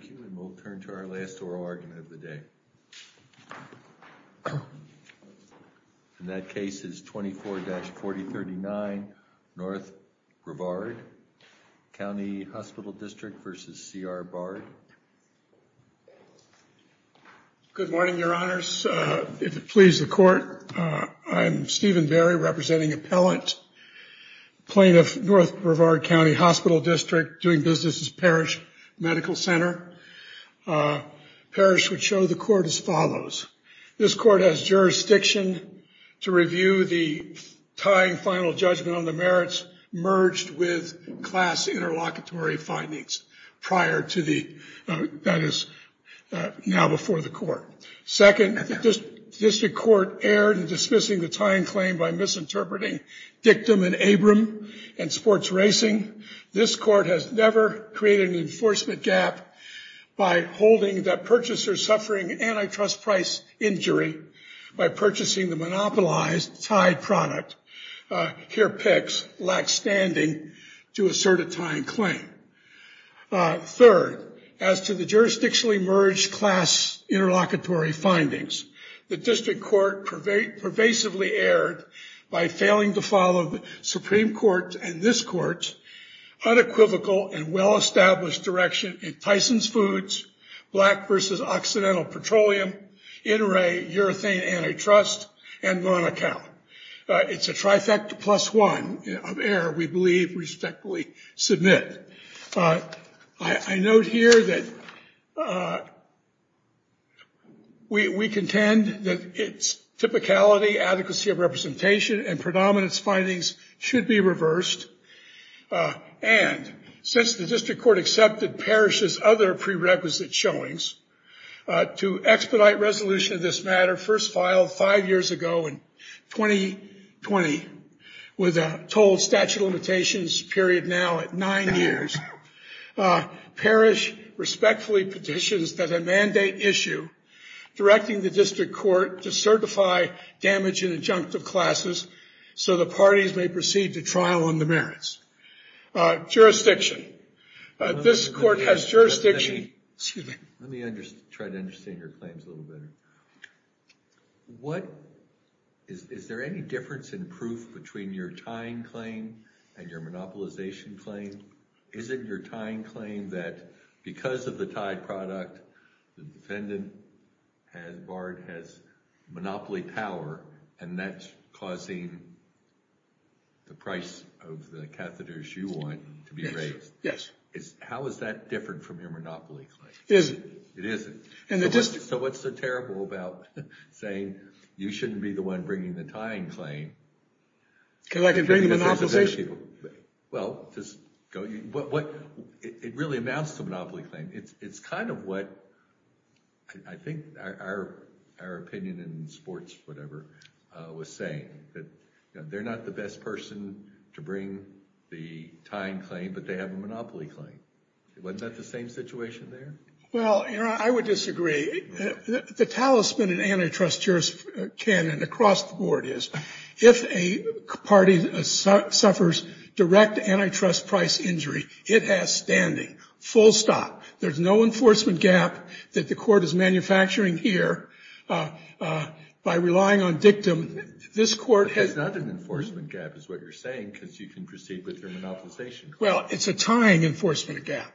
Thank you. And we'll turn to our last oral argument of the day. And that case is 24-4039 North Brevard County Hospital District v. C.R. Bard. Good morning, your honors. If it pleases the court, I'm Stephen Berry, representing appellant, plaintiff, North Brevard County Hospital District, doing business at Parrish Medical Center. Parrish would show the court as follows. This court has jurisdiction to review the tying final judgment on the merits merged with class interlocutory findings prior to the, that is, now before the court. Second, the district court erred in dismissing the tying claim by misinterpreting Dictum and Abram and sports racing. Secondly, this court has never created an enforcement gap by holding that purchasers suffering antitrust price injury by purchasing the monopolized tied product. Here, PICS lacks standing to assert a tying claim. Third, as to the jurisdictionally merged class interlocutory findings, the district court pervasively erred by failing to follow the Supreme Court and this court's unequivocal and well-established direction in Tyson's Foods, Black v. Occidental Petroleum, NRA, Urethane Antitrust, and Monaco. It's a trifecta plus one of error we believe respectfully submit. I note here that we contend that its typicality, adequacy of representation, and predominance findings should be reversed. And, since the district court accepted Parrish's other prerequisite showings, to expedite resolution of this matter, first filed five years ago in 2020, with a total statute of limitations period now at nine years, Parrish respectfully petitions that I mandate issue directing the district court to certify damage in adjunctive classes so the parties may proceed to trial on the merits. Jurisdiction. This court has jurisdiction. Excuse me. Let me try to understand your claims a little better. Is there any difference in proof between your tying claim and your monopolization claim? Is it your tying claim that because of the tied product, the defendant has monopoly power and that's causing the price of the catheters you want to be raised? Yes. How is that different from your monopoly claim? It isn't. It isn't? In the district. So what's so terrible about saying you shouldn't be the one bringing the tying claim? Because I can bring the monopolization claim. Well, it really amounts to a monopoly claim. It's kind of what I think our opinion in sports, whatever, was saying, that they're not the best person to bring the tying claim, but they have a monopoly claim. Wasn't that the same situation there? Well, I would disagree. The talisman in antitrust jurors' canon across the board is, if a party suffers direct antitrust price injury, it has standing. Full stop. There's no enforcement gap that the court is manufacturing here by relying on dictum. This court has... It's not an enforcement gap, is what you're saying, because you can proceed with your monopolization claim. Well, it's a tying enforcement gap.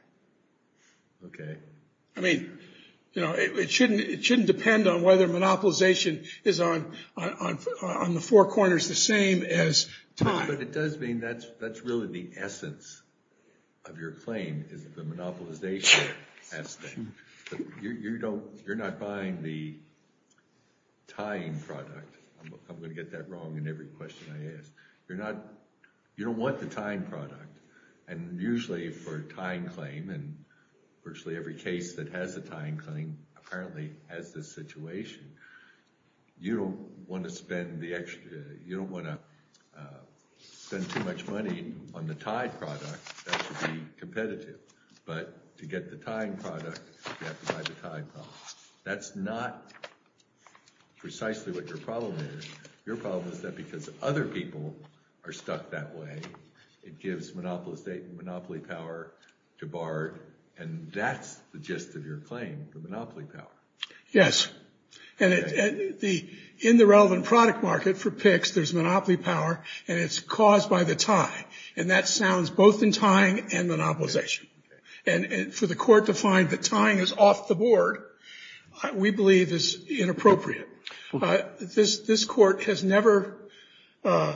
OK. I mean, it shouldn't depend on whether monopolization is on the four corners the same as tying. But it does mean that's really the essence of your claim, is the monopolization aspect. You're not buying the tying product. I'm going to get that wrong in every question I ask. You're not... You don't want the tying product. And usually for a tying claim, and virtually every case that has a tying claim apparently has this situation, you don't want to spend too much money on the tied product. That should be competitive. But to get the tying product, you have to buy the tied product. That's not precisely what your problem is. Your problem is that because other people are stuck that way, it gives monopoly power to BARD. And that's the gist of your claim, the monopoly power. Yes. And in the relevant product market for PICS, there's monopoly power, and it's caused by the tie. And that sounds both in tying and monopolization. And for the court to find that tying is off the board, we believe is inappropriate. This court has never held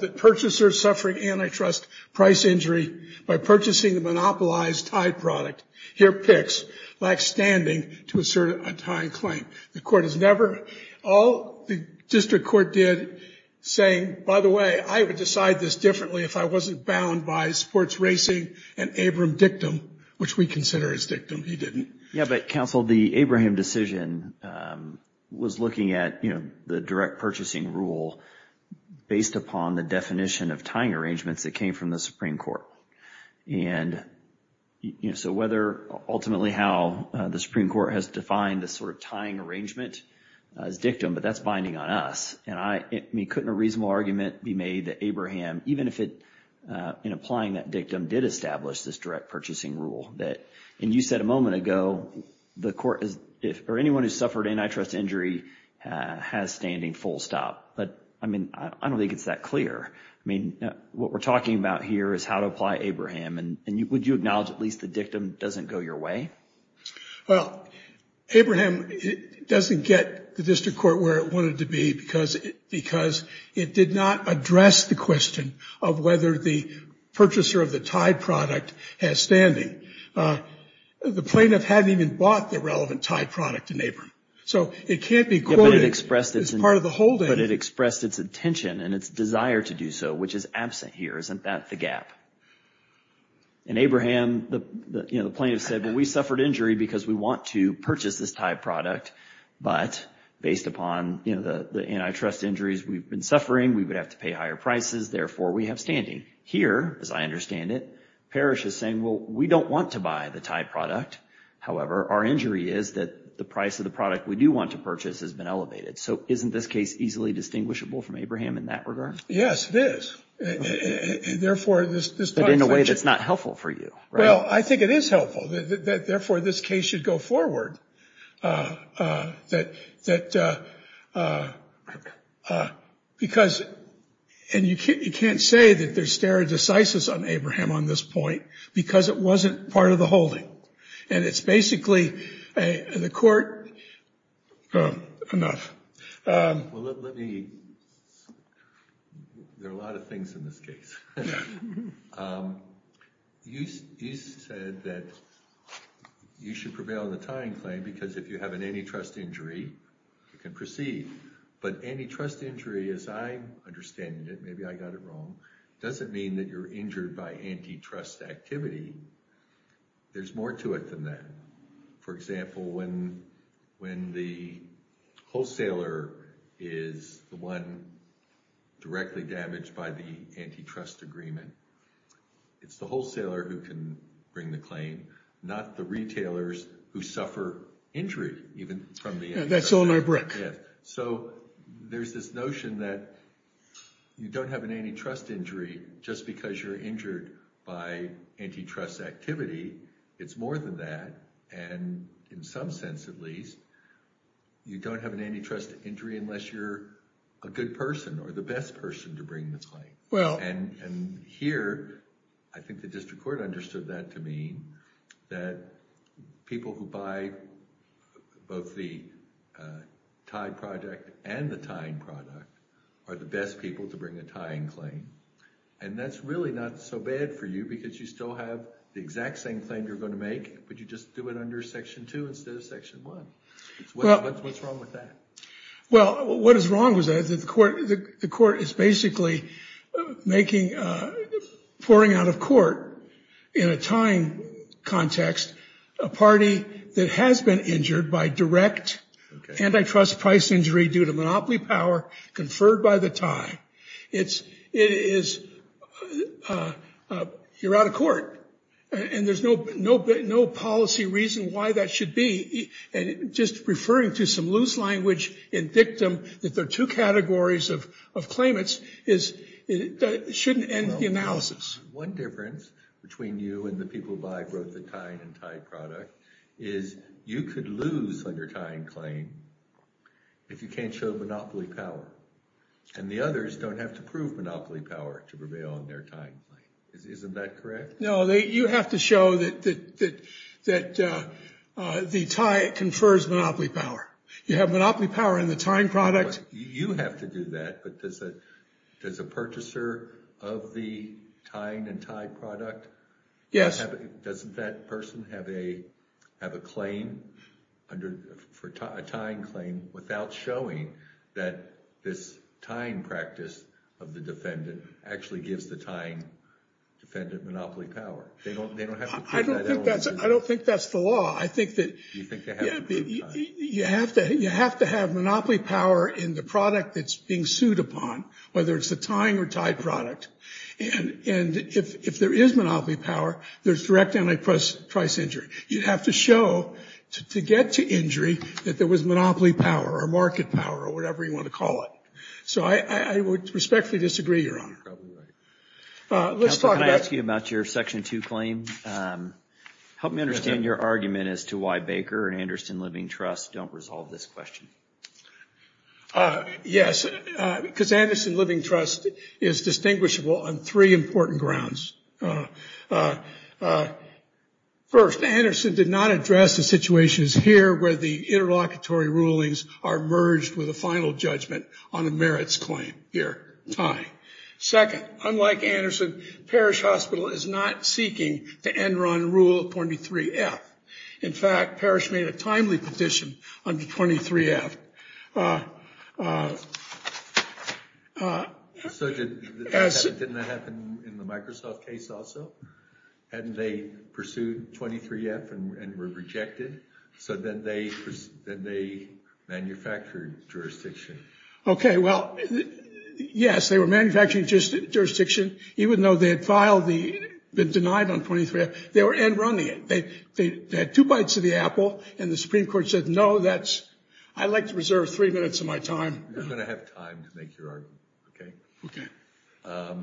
that purchasers suffering antitrust price injury by purchasing the monopolized tied product here at PICS lack standing to assert a tying claim. The court has never... All the district court did, saying, by the way, I would decide this differently if I wasn't bound by sports racing and Abram dictum, which we consider as dictum, he didn't. Yeah, but counsel, the Abraham decision was looking at the direct purchasing rule based upon the definition of tying arrangements that came from the Supreme Court. And so whether ultimately how the Supreme Court has defined this sort of tying arrangement as dictum, but that's binding on us. And I mean, couldn't a reasonable argument be made that Abraham, even if it in applying that dictum, did establish this direct purchasing rule? That, and you said a moment ago, the court or anyone who suffered antitrust injury has standing full stop. But I mean, I don't think it's that clear. I mean, what we're talking about here is how to apply Abraham. And would you acknowledge at least the dictum doesn't go your way? Well, Abraham doesn't get the district court where it wanted to be because it did not address the question of whether the purchaser of the tied product has standing. The plaintiff hadn't even bought the relevant tied product in Abraham. So it can't be quoted as part of the holding. But it expressed its intention and its desire to do so, which is absent here. Isn't that the gap? In Abraham, the plaintiff said, well, we suffered injury because we want to purchase this tied product. But based upon the antitrust injuries we've been suffering, we would have to pay higher prices. Therefore, we have standing. Here, as I understand it, Parrish is saying, well, we don't want to buy the tied product. However, our injury is that the price of the product we do want to purchase has been elevated. So isn't this case easily distinguishable from Abraham in that regard? Yes, it is. Therefore, this in a way that's not helpful for you. Well, I think it is helpful. Therefore, this case should go forward. And you can't say that there's stare decisis on Abraham on this point, because it wasn't part of the holding. And it's basically, the court, enough. There are a lot of things in this case. You said that you should prevail in the tying claim, because if you have an antitrust injury, you can proceed. But antitrust injury, as I understand it, maybe I got it wrong, doesn't mean that you're injured by antitrust activity. There's more to it than that. For example, when the wholesaler is the one directly damaged by the antitrust agreement, it's the wholesaler who can bring the claim, not the retailers who suffer injury, even from the antitrust. That's only a brick. So there's this notion that you don't have an antitrust injury just because you're injured by antitrust activity. It's more than that. And in some sense, at least, you don't have an antitrust injury unless you're a good person or the best person to bring the claim. And here, I think the district court understood that to mean that people who buy both the tied project and the tying product are the best people to bring a tying claim. And that's really not so bad for you, because you still have the exact same claim you're going to make, but you just do it under Section 2 instead of Section 1. What's wrong with that? Well, what is wrong with that is that the court is basically pouring out of court, in a tying context, a party that has been injured by direct antitrust price injury due to monopoly power conferred by the tie. It's, it is, you're out of court. And there's no policy reason why that should be. And just referring to some loose language in dictum, that there are two categories of claimants, shouldn't end the analysis. One difference between you and the people who buy both the tying and tied product is you could lose on your tying claim if you can't show monopoly power. And the others don't have to prove monopoly power to prevail on their tying claim. Isn't that correct? No, you have to show that the tie confers monopoly power. You have monopoly power in the tying product. You have to do that, but does a purchaser of the tying and tied product? Yes. Doesn't that person have a, have a claim under, for a tying claim without showing that this tying practice of the defendant actually gives the tying defendant monopoly power? I don't think that's the law. I think that you have to, you have to have monopoly power in the product that's being sued upon, whether it's the tying or tied product. And if there is monopoly power, there's direct antiprice injury. You'd have to show to get to injury that there was monopoly power or market power or whatever you want to call it. So I would respectfully disagree, Your Honor. You're probably right. Let's talk about- Counselor, can I ask you about your Section 2 claim? Help me understand your argument as to why Baker and Anderson Living Trust don't resolve this question. Yes, because Anderson Living Trust is distinguishable on three important grounds. First, Anderson did not address the situations here where the interlocutory rulings are merged with a final judgment on a merits claim here, tying. Second, unlike Anderson, Parrish Hospital is not seeking the Enron Rule 23-F. In fact, Parrish made a timely petition under 23-F. So didn't that happen in the Microsoft case also? Hadn't they pursued 23-F and were rejected? So then they manufactured jurisdiction. OK, well, yes, they were manufacturing jurisdiction. Even though they had been denied on 23-F, they were Enron-ing it. They had two bites of the apple, and the Supreme Court said, no, that's- I have to reserve three minutes of my time. You're going to have time to make your argument, OK? OK.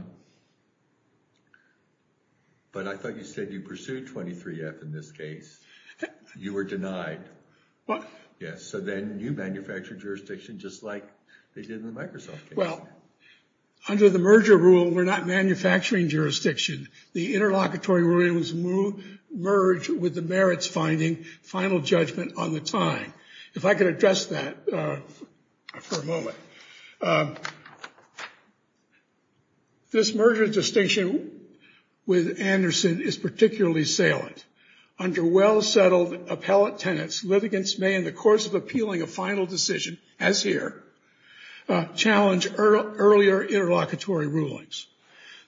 But I thought you said you pursued 23-F in this case. You were denied. Yes, so then you manufactured jurisdiction just like they did in the Microsoft case. Well, under the merger rule, we're not manufacturing jurisdiction. The interlocutory ruling was merged with the merits finding, final judgment on the time. If I could address that for a moment. This merger distinction with Anderson is particularly salient. Under well-settled appellate tenets, litigants may, in the course of appealing a final decision, as here, challenge earlier interlocutory rulings.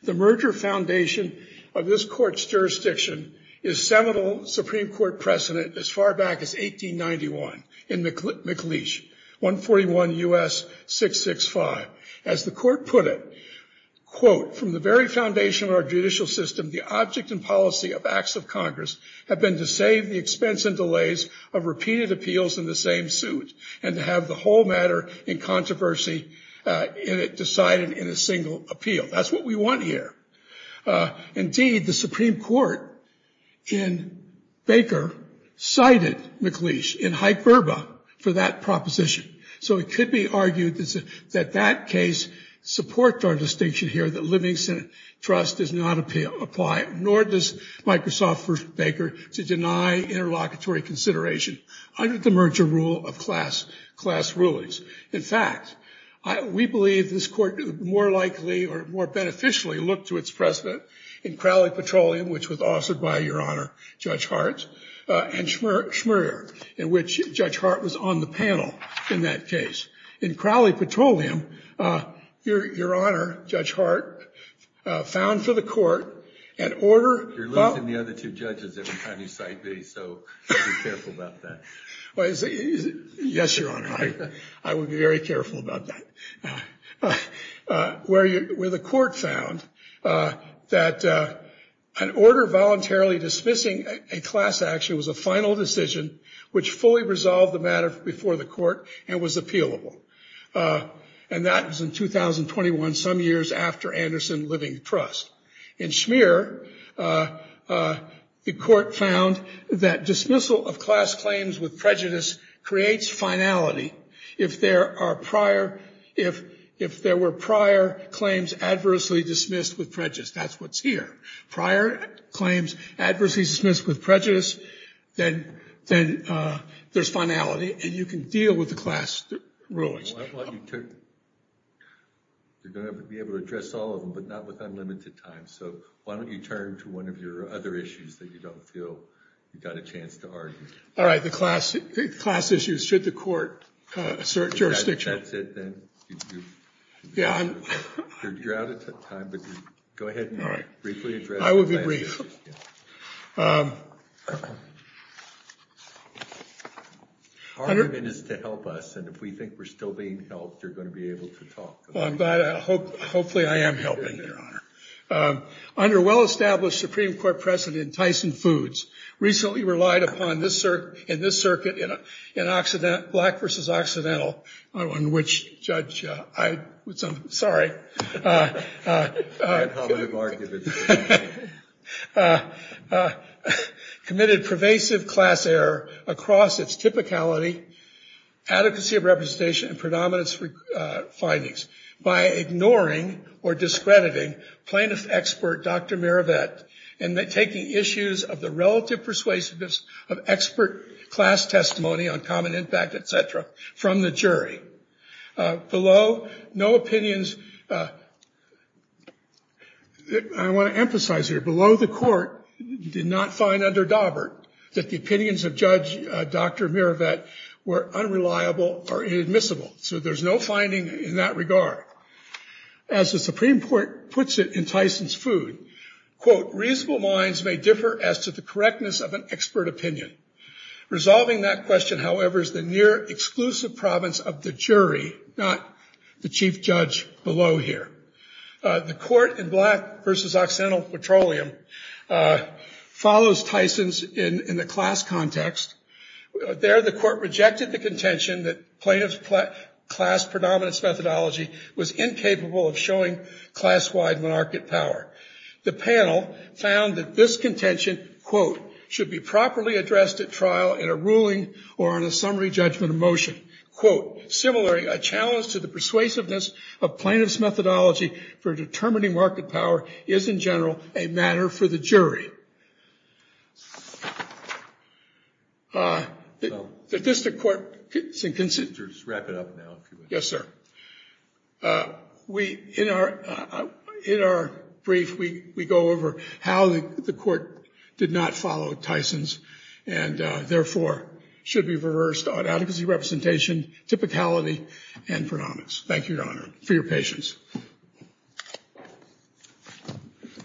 The merger foundation of this court's jurisdiction is seminal Supreme Court precedent as far back as 1891 in McLeish, 141 U.S. 665. As the court put it, quote, from the very foundation of our judicial system, the object and policy of acts of Congress have been to save the expense and delays of repeated appeals in the same suit and to have the whole matter in controversy decided in a single appeal. That's what we want here. Indeed, the Supreme Court in Baker cited McLeish in hyperbole for that proposition. So it could be argued that that case supports our distinction here that living senate trust does not apply, nor does Microsoft versus Baker, to deny interlocutory consideration under the merger rule of class rulings. In fact, we believe this court more likely or more beneficially looked to its precedent in Crowley Petroleum, which was authored by, Your Honor, Judge Hart, and Schmurrier, in which Judge Hart was on the panel in that case. In Crowley Petroleum, Your Honor, Judge Hart found for the court an order— You're losing the other two judges every time you cite these, so be careful about that. Well, yes, Your Honor, I will be very careful about that. Where the court found that an order voluntarily dismissing a class action was a final decision which fully resolved the matter before the court and was appealable. And that was in 2021, some years after Anderson Living Trust. In Schmur, the court found that dismissal of class claims with prejudice creates finality if there were prior claims adversely dismissed with prejudice. That's what's here. Prior claims adversely dismissed with prejudice, then there's finality, and you can deal with the class rulings. You're going to be able to address all of them, but not with unlimited time, so why don't you turn to one of your other issues that you don't feel you've got a chance to argue. All right, the class issues. Should the court assert jurisdiction? That's it, then. You're out of time, but go ahead and briefly address— I will be brief. Our mission is to help us, and if we think we're still being helped, you're going to be able to talk to us. Well, I'm glad. Hopefully I am helping, Your Honor. Under well-established Supreme Court precedent, Tyson Foods recently relied upon in this circuit in Black v. Occidental, on which Judge—I'm sorry. I'm having a hard time hearing you. Committed pervasive class error across its typicality, adequacy of representation, and predominance findings by ignoring or discrediting plaintiff expert Dr. Miravet and taking issues of the relative persuasiveness of expert class testimony on common impact, et cetera, from the jury. Below, no opinions—I want to emphasize here—below the court did not find under Daubert that the opinions of Judge Dr. Miravet were unreliable or inadmissible. So there's no finding in that regard. As the Supreme Court puts it in Tyson's food, quote, reasonable minds may differ as to the correctness of an expert opinion. Resolving that question, however, is the near exclusive province of the jury, not the chief judge below here. The court in Black v. Occidental Petroleum follows Tyson's in the class context. There, the court rejected the contention that plaintiff's class predominance methodology was incapable of showing class-wide monarchic power. The panel found that this contention, quote, should be properly addressed at trial in a ruling or on a summary judgment of motion. Quote, similarly, a challenge to the persuasiveness of plaintiff's methodology for determining market power is, in general, a matter for the jury. In our brief, we go over how the court did not follow Tyson's and, therefore, should be reversed on adequacy representation, typicality, and predominance. Thank you, Your Honor, for your patience.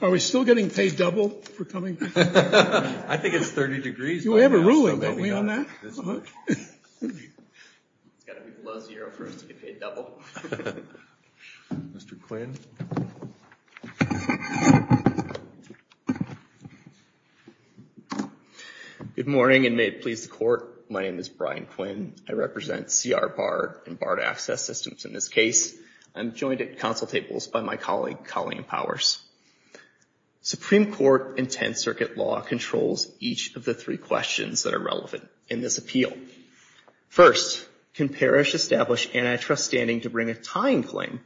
Are we still getting paid double for coming? I think it's 30 degrees. You have a ruling, don't we, on that? It's got to be below zero for us to get paid double. Good morning, and may it please the court. My name is Brian Quinn. I represent C.R. Barr and Barr to Access Systems in this case. I'm joined at council tables by my colleague, Colleen Powers. Supreme Court and 10th Circuit law controls each of the three questions that are relevant in this appeal. First, can Parrish establish antitrust standing to bring a tying claim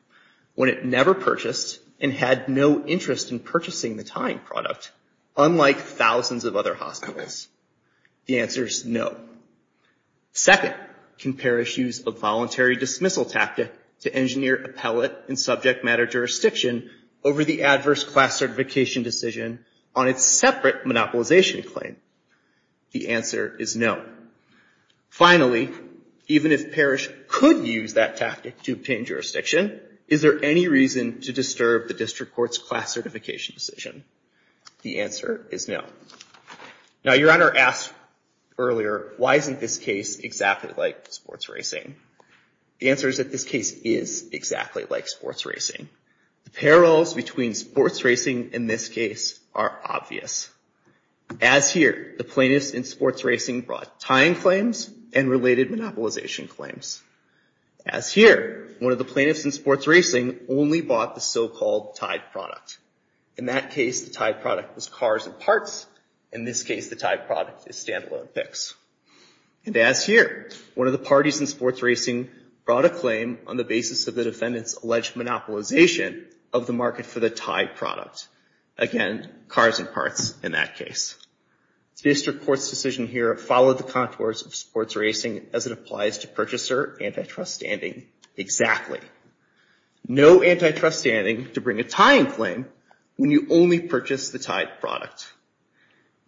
when it never purchased and had no interest in purchasing the tying product, unlike thousands of other hospitals? The answer is no. Second, can Parrish use a voluntary dismissal tactic to engineer appellate and subject matter jurisdiction over the adverse class certification decision on its separate monopolization claim? The answer is no. Finally, even if Parrish could use that tactic to obtain jurisdiction, is there any reason to disturb the district court's class certification decision? The answer is no. Now, Your Honor asked earlier, why isn't this case exactly like sports racing? The answer is that this case is exactly like sports racing. The parallels between sports racing in this case are obvious. As here, the plaintiffs in sports racing brought tying claims and related monopolization claims. As here, one of the plaintiffs in sports racing only bought the so-called tied product. In that case, the tied product was cars and parts. In this case, the tied product is standalone picks. And as here, one of the parties in sports racing brought a claim on the basis of the defendant's alleged monopolization of the market for the tied product. Again, cars and parts in that case. District court's decision here followed the contours of sports racing as it applies to purchaser antitrust standing exactly. No antitrust standing to bring a tying claim when you only purchase the tied product.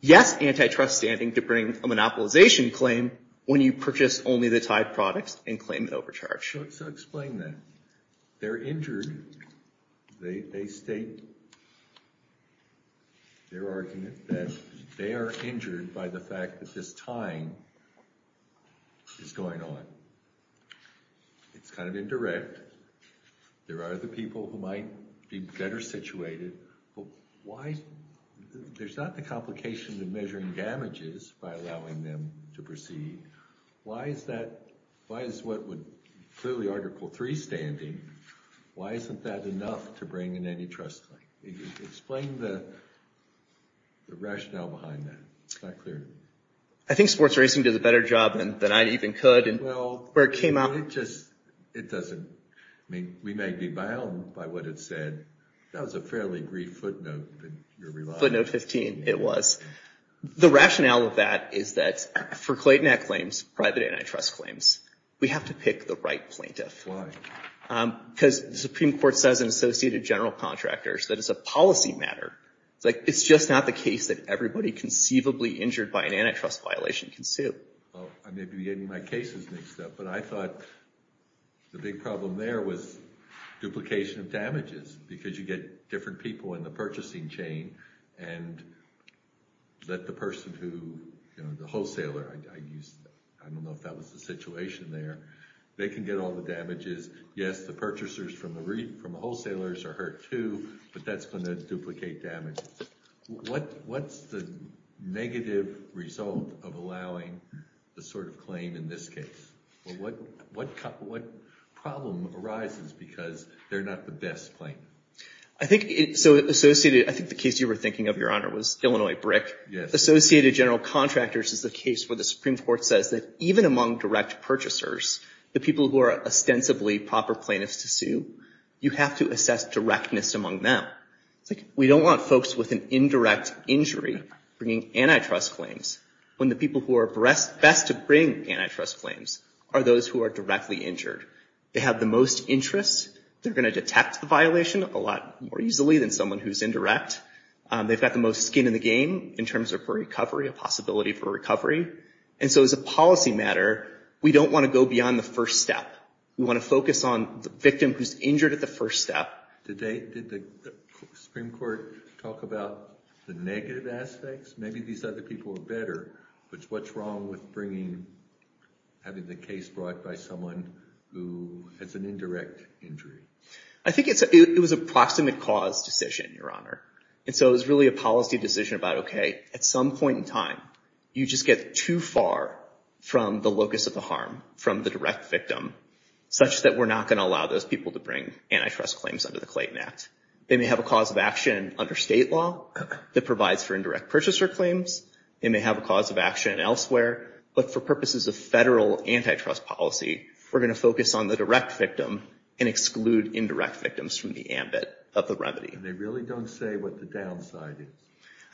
Yes antitrust standing to bring a monopolization claim when you purchase only the tied products and claim the overcharge. So explain that. They're injured. They state their argument that they are injured by the fact that this tying is going on. It's kind of indirect. There are the people who might be better situated. But why? There's not the complication of measuring damages by allowing them to proceed. Why is that? Why is what would clearly Article 3 standing? Why isn't that enough to bring an antitrust claim? Explain the rationale behind that. It's not clear. I think sports racing did a better job than I even could. Well, we may be bound by what it said. That was a fairly brief footnote that you're relying on. Footnote 15, it was. The rationale of that is that for Clayton Act claims, private antitrust claims, we have to pick the right plaintiff. Why? Because the Supreme Court says in associated general contractors that it's a policy matter. It's just not the case that everybody conceivably injured by an antitrust violation can sue. Well, I may be getting my cases mixed up. But I thought the big problem there was duplication of damages. Because you get different people in the purchasing chain and let the person who, you know, the wholesaler, I don't know if that was the situation there, they can get all the damages. Yes, the purchasers from the wholesalers are hurt too. But that's going to duplicate damages. What's the negative result of allowing the sort of claim in this case? Well, what problem arises because they're not the best plaintiff? I think the case you were thinking of, Your Honor, was Illinois Brick. Associated general contractors is the case where the Supreme Court says that even among direct purchasers, the people who are ostensibly proper plaintiffs to sue, you have to assess directness among them. We don't want folks with an indirect injury bringing antitrust claims when the people who are best to bring antitrust claims are those who are directly injured. They have the most interest. They're going to detect the violation a lot more easily than someone who's indirect. They've got the most skin in the game in terms of recovery, a possibility for recovery. And so as a policy matter, we don't want to go beyond the first step. We want to focus on the victim who's injured at the first step. Did the Supreme Court talk about the negative aspects? Maybe these other people are better. But what's wrong with having the case brought by someone who has an indirect injury? I think it was a proximate cause decision, Your Honor. And so it was really a policy decision about, OK, at some point in time, you just get too far from the locus of the harm, from the direct victim, such that we're not going to allow those people to bring antitrust claims under the Clayton Act. They may have a cause of action under state law that provides for indirect purchaser claims. They may have a cause of action elsewhere. But for purposes of federal antitrust policy, we're going to focus on the direct victim and exclude indirect victims from the ambit of the remedy. They really don't say what the downside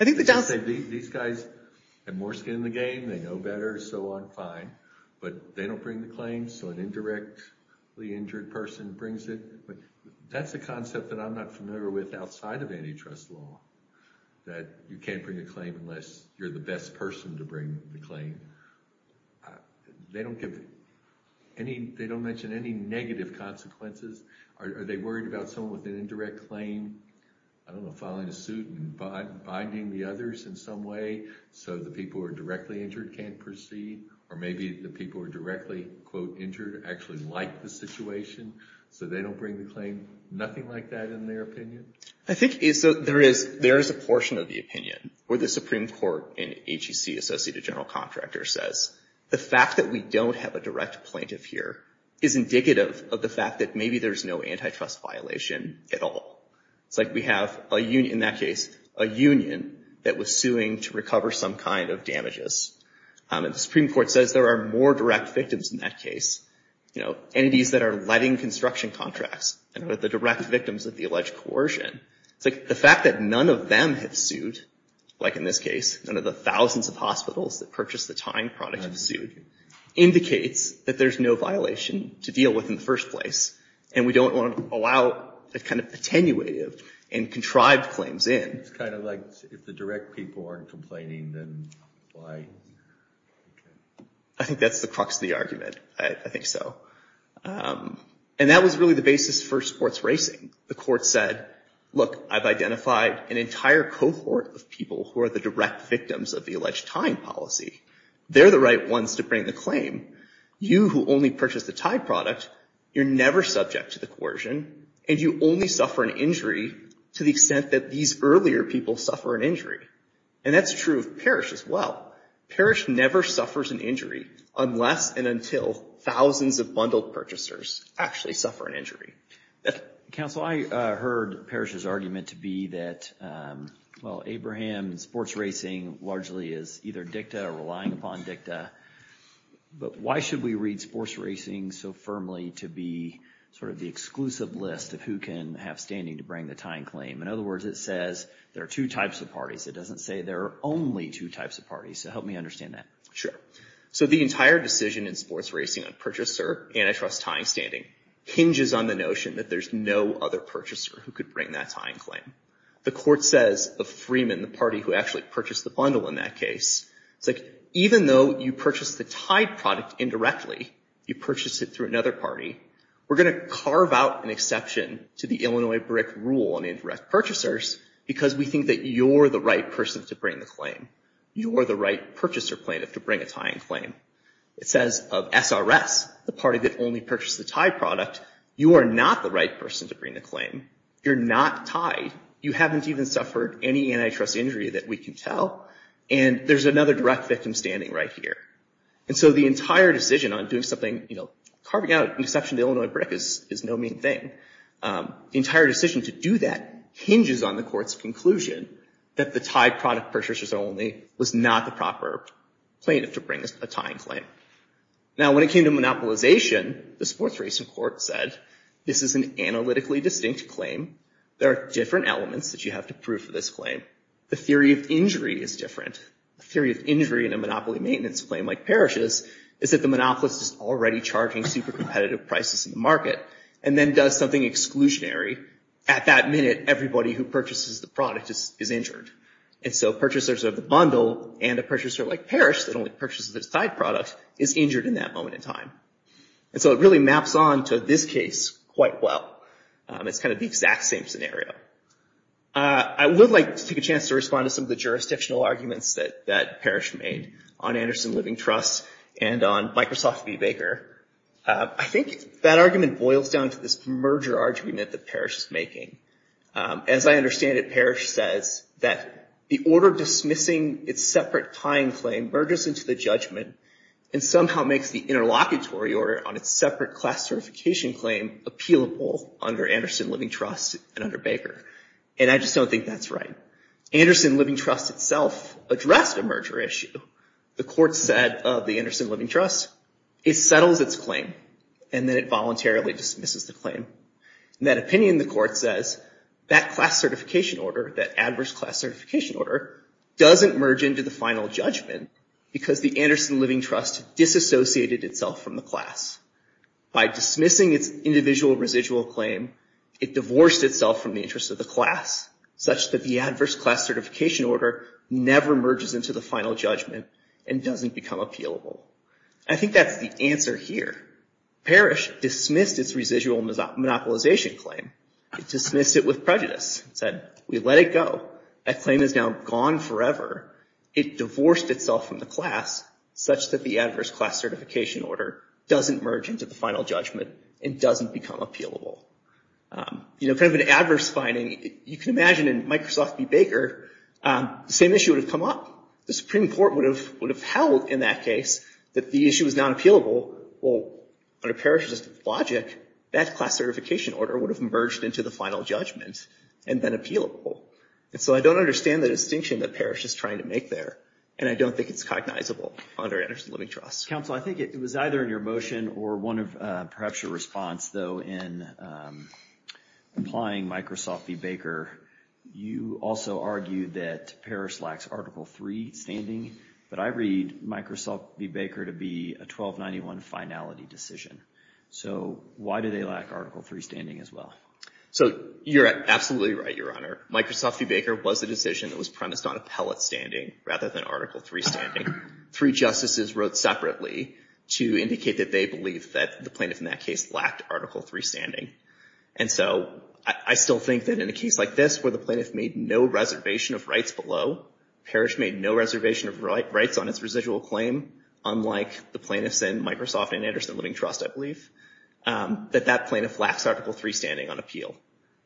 is. These guys have more skin in the game, they know better, so I'm fine. But they don't bring the claim, so an indirectly injured person brings it. But that's a concept that I'm not familiar with outside of antitrust law, that you can't bring a claim unless you're the best person to bring the claim. They don't mention any negative consequences. Are they worried about someone with an indirect claim, I don't know, filing a suit and binding the others in some way so the people who are directly injured can't proceed? Or maybe the people who are directly, quote, injured actually like the situation so they don't bring the claim? Nothing like that in their opinion? I think there is a portion of the opinion where the Supreme Court and HEC Associate General Contractor says, the fact that we don't have a direct plaintiff here is indicative of the fact that maybe there's no antitrust violation at all. It's like we have, in that case, a union that was suing to recover some kind of damages. And the Supreme Court says there are more direct victims in that case, entities that are letting construction contracts, and are the direct victims of the alleged coercion. It's like the fact that none of them have sued, like in this case, none of the thousands of hospitals that purchased the time product have sued, indicates that there's no violation to deal with in the first place. And we don't want to allow that kind of attenuative and contrived claims in. It's kind of like, if the direct people aren't complaining, then why? I think that's the crux of the argument. I think so. And that was really the basis for sports racing. The court said, look, I've identified an entire cohort of people who are the direct victims of the alleged tying policy. They're the right ones to bring the claim. You, who only purchased the tied product, you're never subject to the coercion, and you only suffer an injury to the extent that these earlier people suffer an injury. And that's true of Parrish as well. Parrish never suffers an injury unless and until thousands of bundled purchasers actually suffer an injury. Counsel, I heard Parrish's argument to be that, well, Abraham, sports racing largely is either dicta or relying upon dicta. But why should we read sports racing so firmly to be sort of the exclusive list of who can have standing to bring the tying claim? In other words, it says there are two types of parties. It doesn't say there are only two types of parties. So help me understand that. So the entire decision in sports racing on purchaser antitrust tying standing hinges on the notion that there's no other purchaser who could bring that tying claim. The court says of Freeman, the party who actually purchased the bundle in that case, it's like, even though you purchased the tied product indirectly, you purchased it through another party, we're going to carve out an exception to the Illinois BRIC rule on indirect purchasers because we think that you're the right person to bring the claim. You are the right purchaser plaintiff to bring a tying claim. It says of SRS, the party that only purchased the tied product, you are not the right person to bring the claim. You're not tied. You haven't even suffered any antitrust injury that we can tell. And there's another direct victim standing right here. And so the entire decision on doing something, carving out an exception to the Illinois BRIC is no mean thing. The entire decision to do that hinges on the court's conclusion that the tied product purchasers only was not the proper plaintiff to bring a tying claim. Now, when it came to monopolization, the sports racing court said, this is an analytically distinct claim. There are different elements that you have to prove for this claim. The theory of injury is different. The theory of injury in a monopoly maintenance claim like Parrish's is that the monopolist is already charging super competitive prices in the market and then does something exclusionary. At that minute, everybody who purchases the product is injured. And so purchasers of the bundle and a purchaser like Parrish that only purchases the tied product is injured in that moment in time. And so it really maps on to this case quite well. It's kind of the exact same scenario. I would like to take a chance to respond to some of the jurisdictional arguments that Parrish made on Anderson Living Trust and on Microsoft v. Baker. I think that argument boils down to this merger argument that Parrish is making. As I understand it, Parrish says that the order dismissing its separate tying claim merges into the judgment and somehow makes the interlocutory order on its separate class certification claim appealable under Anderson Living Trust and under Baker. And I just don't think that's right. Anderson Living Trust itself addressed a merger issue. The court said of the Anderson Living Trust, it settles its claim and then it voluntarily dismisses the claim. In that opinion, the court says that class certification order, that adverse class certification order, doesn't merge into the final judgment because the Anderson Living Trust disassociated itself from the class. By dismissing its individual residual claim, it divorced itself from the interests of the class such that the adverse class certification order never merges into the final judgment and doesn't become appealable. I think that's the answer here. Parrish dismissed its residual monopolization claim. It dismissed it with prejudice. It said, we let it go. That claim is now gone forever. It divorced itself from the class such that the adverse class certification order doesn't merge into the final judgment and doesn't become appealable. You know, kind of an adverse finding. You can imagine in Microsoft v. Baker, the same issue would have come up. The Supreme Court would have held in that case that the issue was not appealable. Well, under Parrish's logic, that class certification order would have merged into the final judgment and been appealable. And so I don't understand the distinction that Parrish is trying to make there. And I don't think it's cognizable under Anderson Living Trust. Counsel, I think it was either in your motion or one of perhaps your response, though, in implying Microsoft v. Baker. You also argue that Parrish lacks Article III standing, but I read Microsoft v. Baker to be a 1291 finality decision. So why do they lack Article III standing as well? So you're absolutely right, Your Honor. Microsoft v. Baker was the decision that was premised on appellate standing rather than Article III standing. Three justices wrote separately to indicate that they believe that the plaintiff in that case lacked Article III standing. And so I still think that in a case like this where the plaintiff made no reservation of rights below, Parrish made no reservation of rights on its residual claim, unlike the plaintiffs in Microsoft and Anderson Living Trust, I believe, that that plaintiff lacks Article III standing on appeal.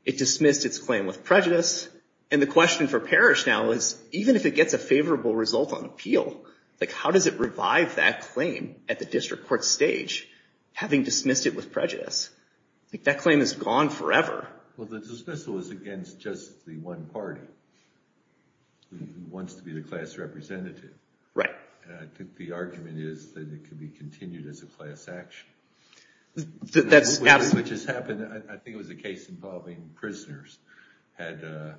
It dismissed its claim with prejudice. And the question for Parrish now is, even if it gets a favorable result on appeal, how does it revive that claim at the district court stage, having dismissed it with prejudice? That claim is gone forever. Well, the dismissal is against just the one party who wants to be the class representative. Right. And I think the argument is that it can be continued as a class action. That's absolutely- Which has happened. I think it was a case involving prisoners had a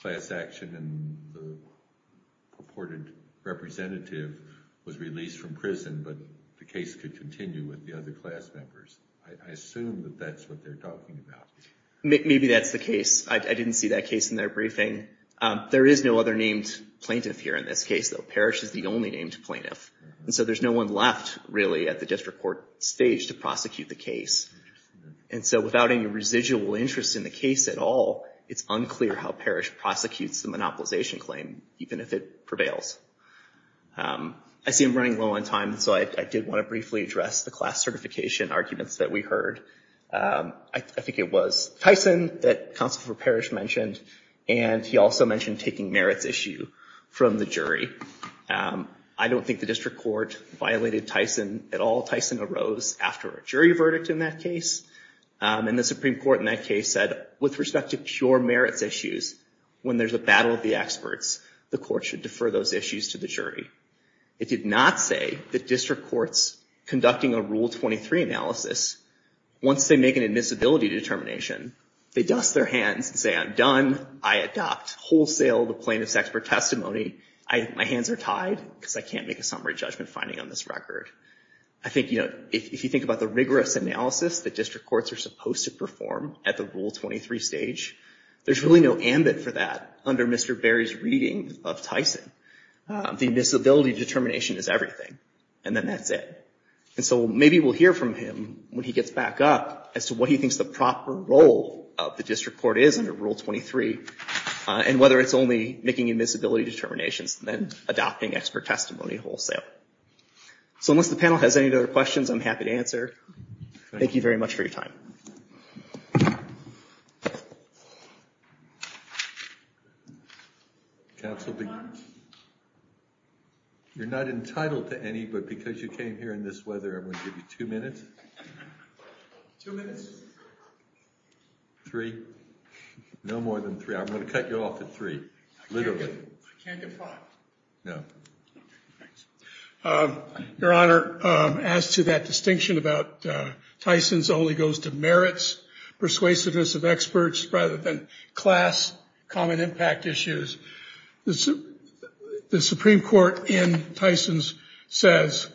class action, and the purported representative was released from prison, but the case could continue with the other class members. I assume that that's what they're talking about. Maybe that's the case. I didn't see that case in their briefing. There is no other named plaintiff here in this case, though. Parrish is the only named plaintiff. And so there's no one left, really, at the district court stage to prosecute the case. And so without any residual interest in the case at all, it's unclear how Parrish prosecutes the monopolization claim, even if it prevails. I see I'm running low on time, so I did want to briefly address the class certification arguments that we heard. I think it was Tyson that Counsel for Parrish mentioned, and he also mentioned taking merits issue from the jury. I don't think the district court violated Tyson at all. Tyson arose after a jury verdict in that case, and the Supreme Court in that case said, with respect to pure merits issues, when there's a battle of the experts, the court should defer those issues to the jury. It did not say that district courts conducting a Rule 23 analysis, once they make an admissibility determination, they dust their hands and say, I'm done. I adopt wholesale the plaintiff's expert testimony. My hands are tied because I can't make a summary judgment finding on this record. I think if you think about the rigorous analysis that district courts are supposed to perform at the Rule 23 stage, there's really no ambit for that under Mr. Barry's reading of Tyson. The admissibility determination is everything, and then that's it. And so maybe we'll hear from him when he gets back up as to what he thinks the proper role of the district court is under Rule 23, and whether it's only making admissibility determinations and then adopting expert testimony wholesale. So unless the panel has any other questions, I'm happy to answer. Thank you very much for your time. Counsel, you're not entitled to any, but because you came here in this weather, I'm going to give you two minutes. Two minutes. Three. No more than three. I'm going to cut you off at three, literally. I can't get five. No. Thanks. Your Honor, as to that distinction about Tyson's only goes to merits, persuasiveness of experts rather than class, common impact issues, the Supreme Court in Tyson's says,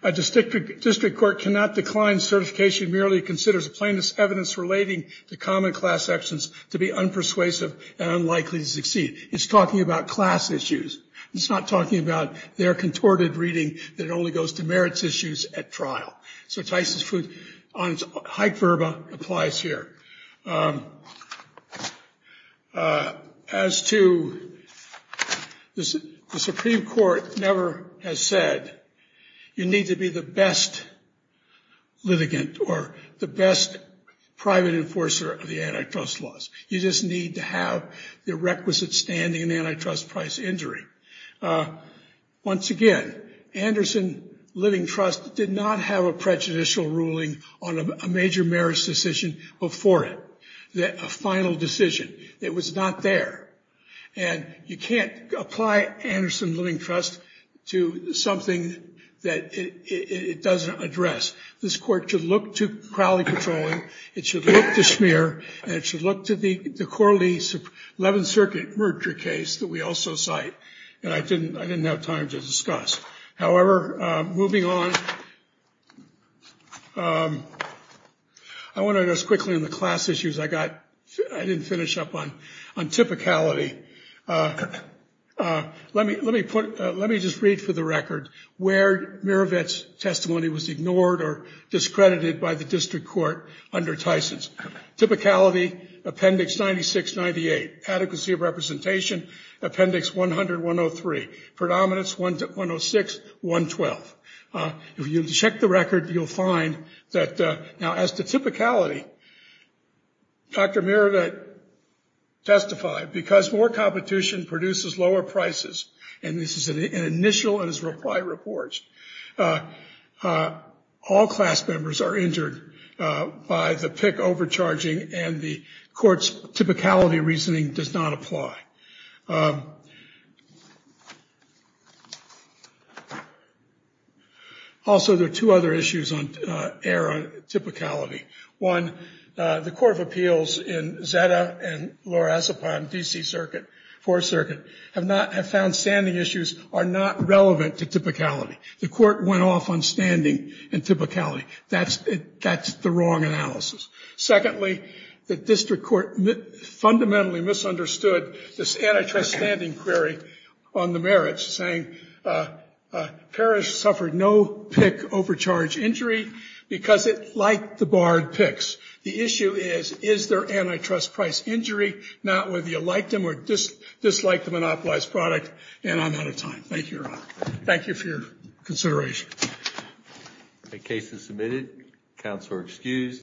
a district court cannot decline certification merely considers a plaintiff's evidence relating to common class actions to be unpersuasive and unlikely to succeed. It's talking about class issues. It's not talking about their contorted reading that it only goes to merits issues at trial. So Tyson's foot on Hyde-Verba applies here. As to the Supreme Court never has said, you need to be the best litigant or the best private enforcer of the antitrust laws. You just need to have the requisite standing in antitrust price injury. Once again, Anderson Living Trust did not have a prejudicial ruling on a major merits decision before it, that a final decision. It was not there. And you can't apply Anderson Living Trust to something that it doesn't address. This court should look to Crowley patrolling. It should look to Schmier. And it should look to the Corley 11th Circuit murder case that we also cite. And I didn't have time to discuss. However, moving on, I wanna address quickly on the class issues. I didn't finish up on typicality. Let me just read for the record where Mirovets' testimony was ignored or discredited by the district court under Tyson's. Typicality, appendix 96-98. Adequacy of representation, appendix 100-103. Predominance 106-112. If you check the record, you'll find that now as to typicality, Dr. Mirovets testified, because more competition produces lower prices, and this is an initial in his reply report, all class members are injured by the PIC overcharging and the court's typicality reasoning does not apply. Also, there are two other issues on error typicality. One, the Court of Appeals in Zeta and Lorazepam, D.C. 4th Circuit, have found standing issues are not relevant to typicality. The court went off on standing and typicality. That's the wrong analysis. Secondly, the district court fundamentally misunderstood this antitrust standing query on the merits, saying Parrish suffered no PIC overcharge injury because it liked the barred PICs. The issue is, is there antitrust price injury? Not whether you liked them or disliked the monopolized product, and I'm out of time. Thank you, Your Honor. Thank you for your consideration. The case is submitted. Counsel are excused.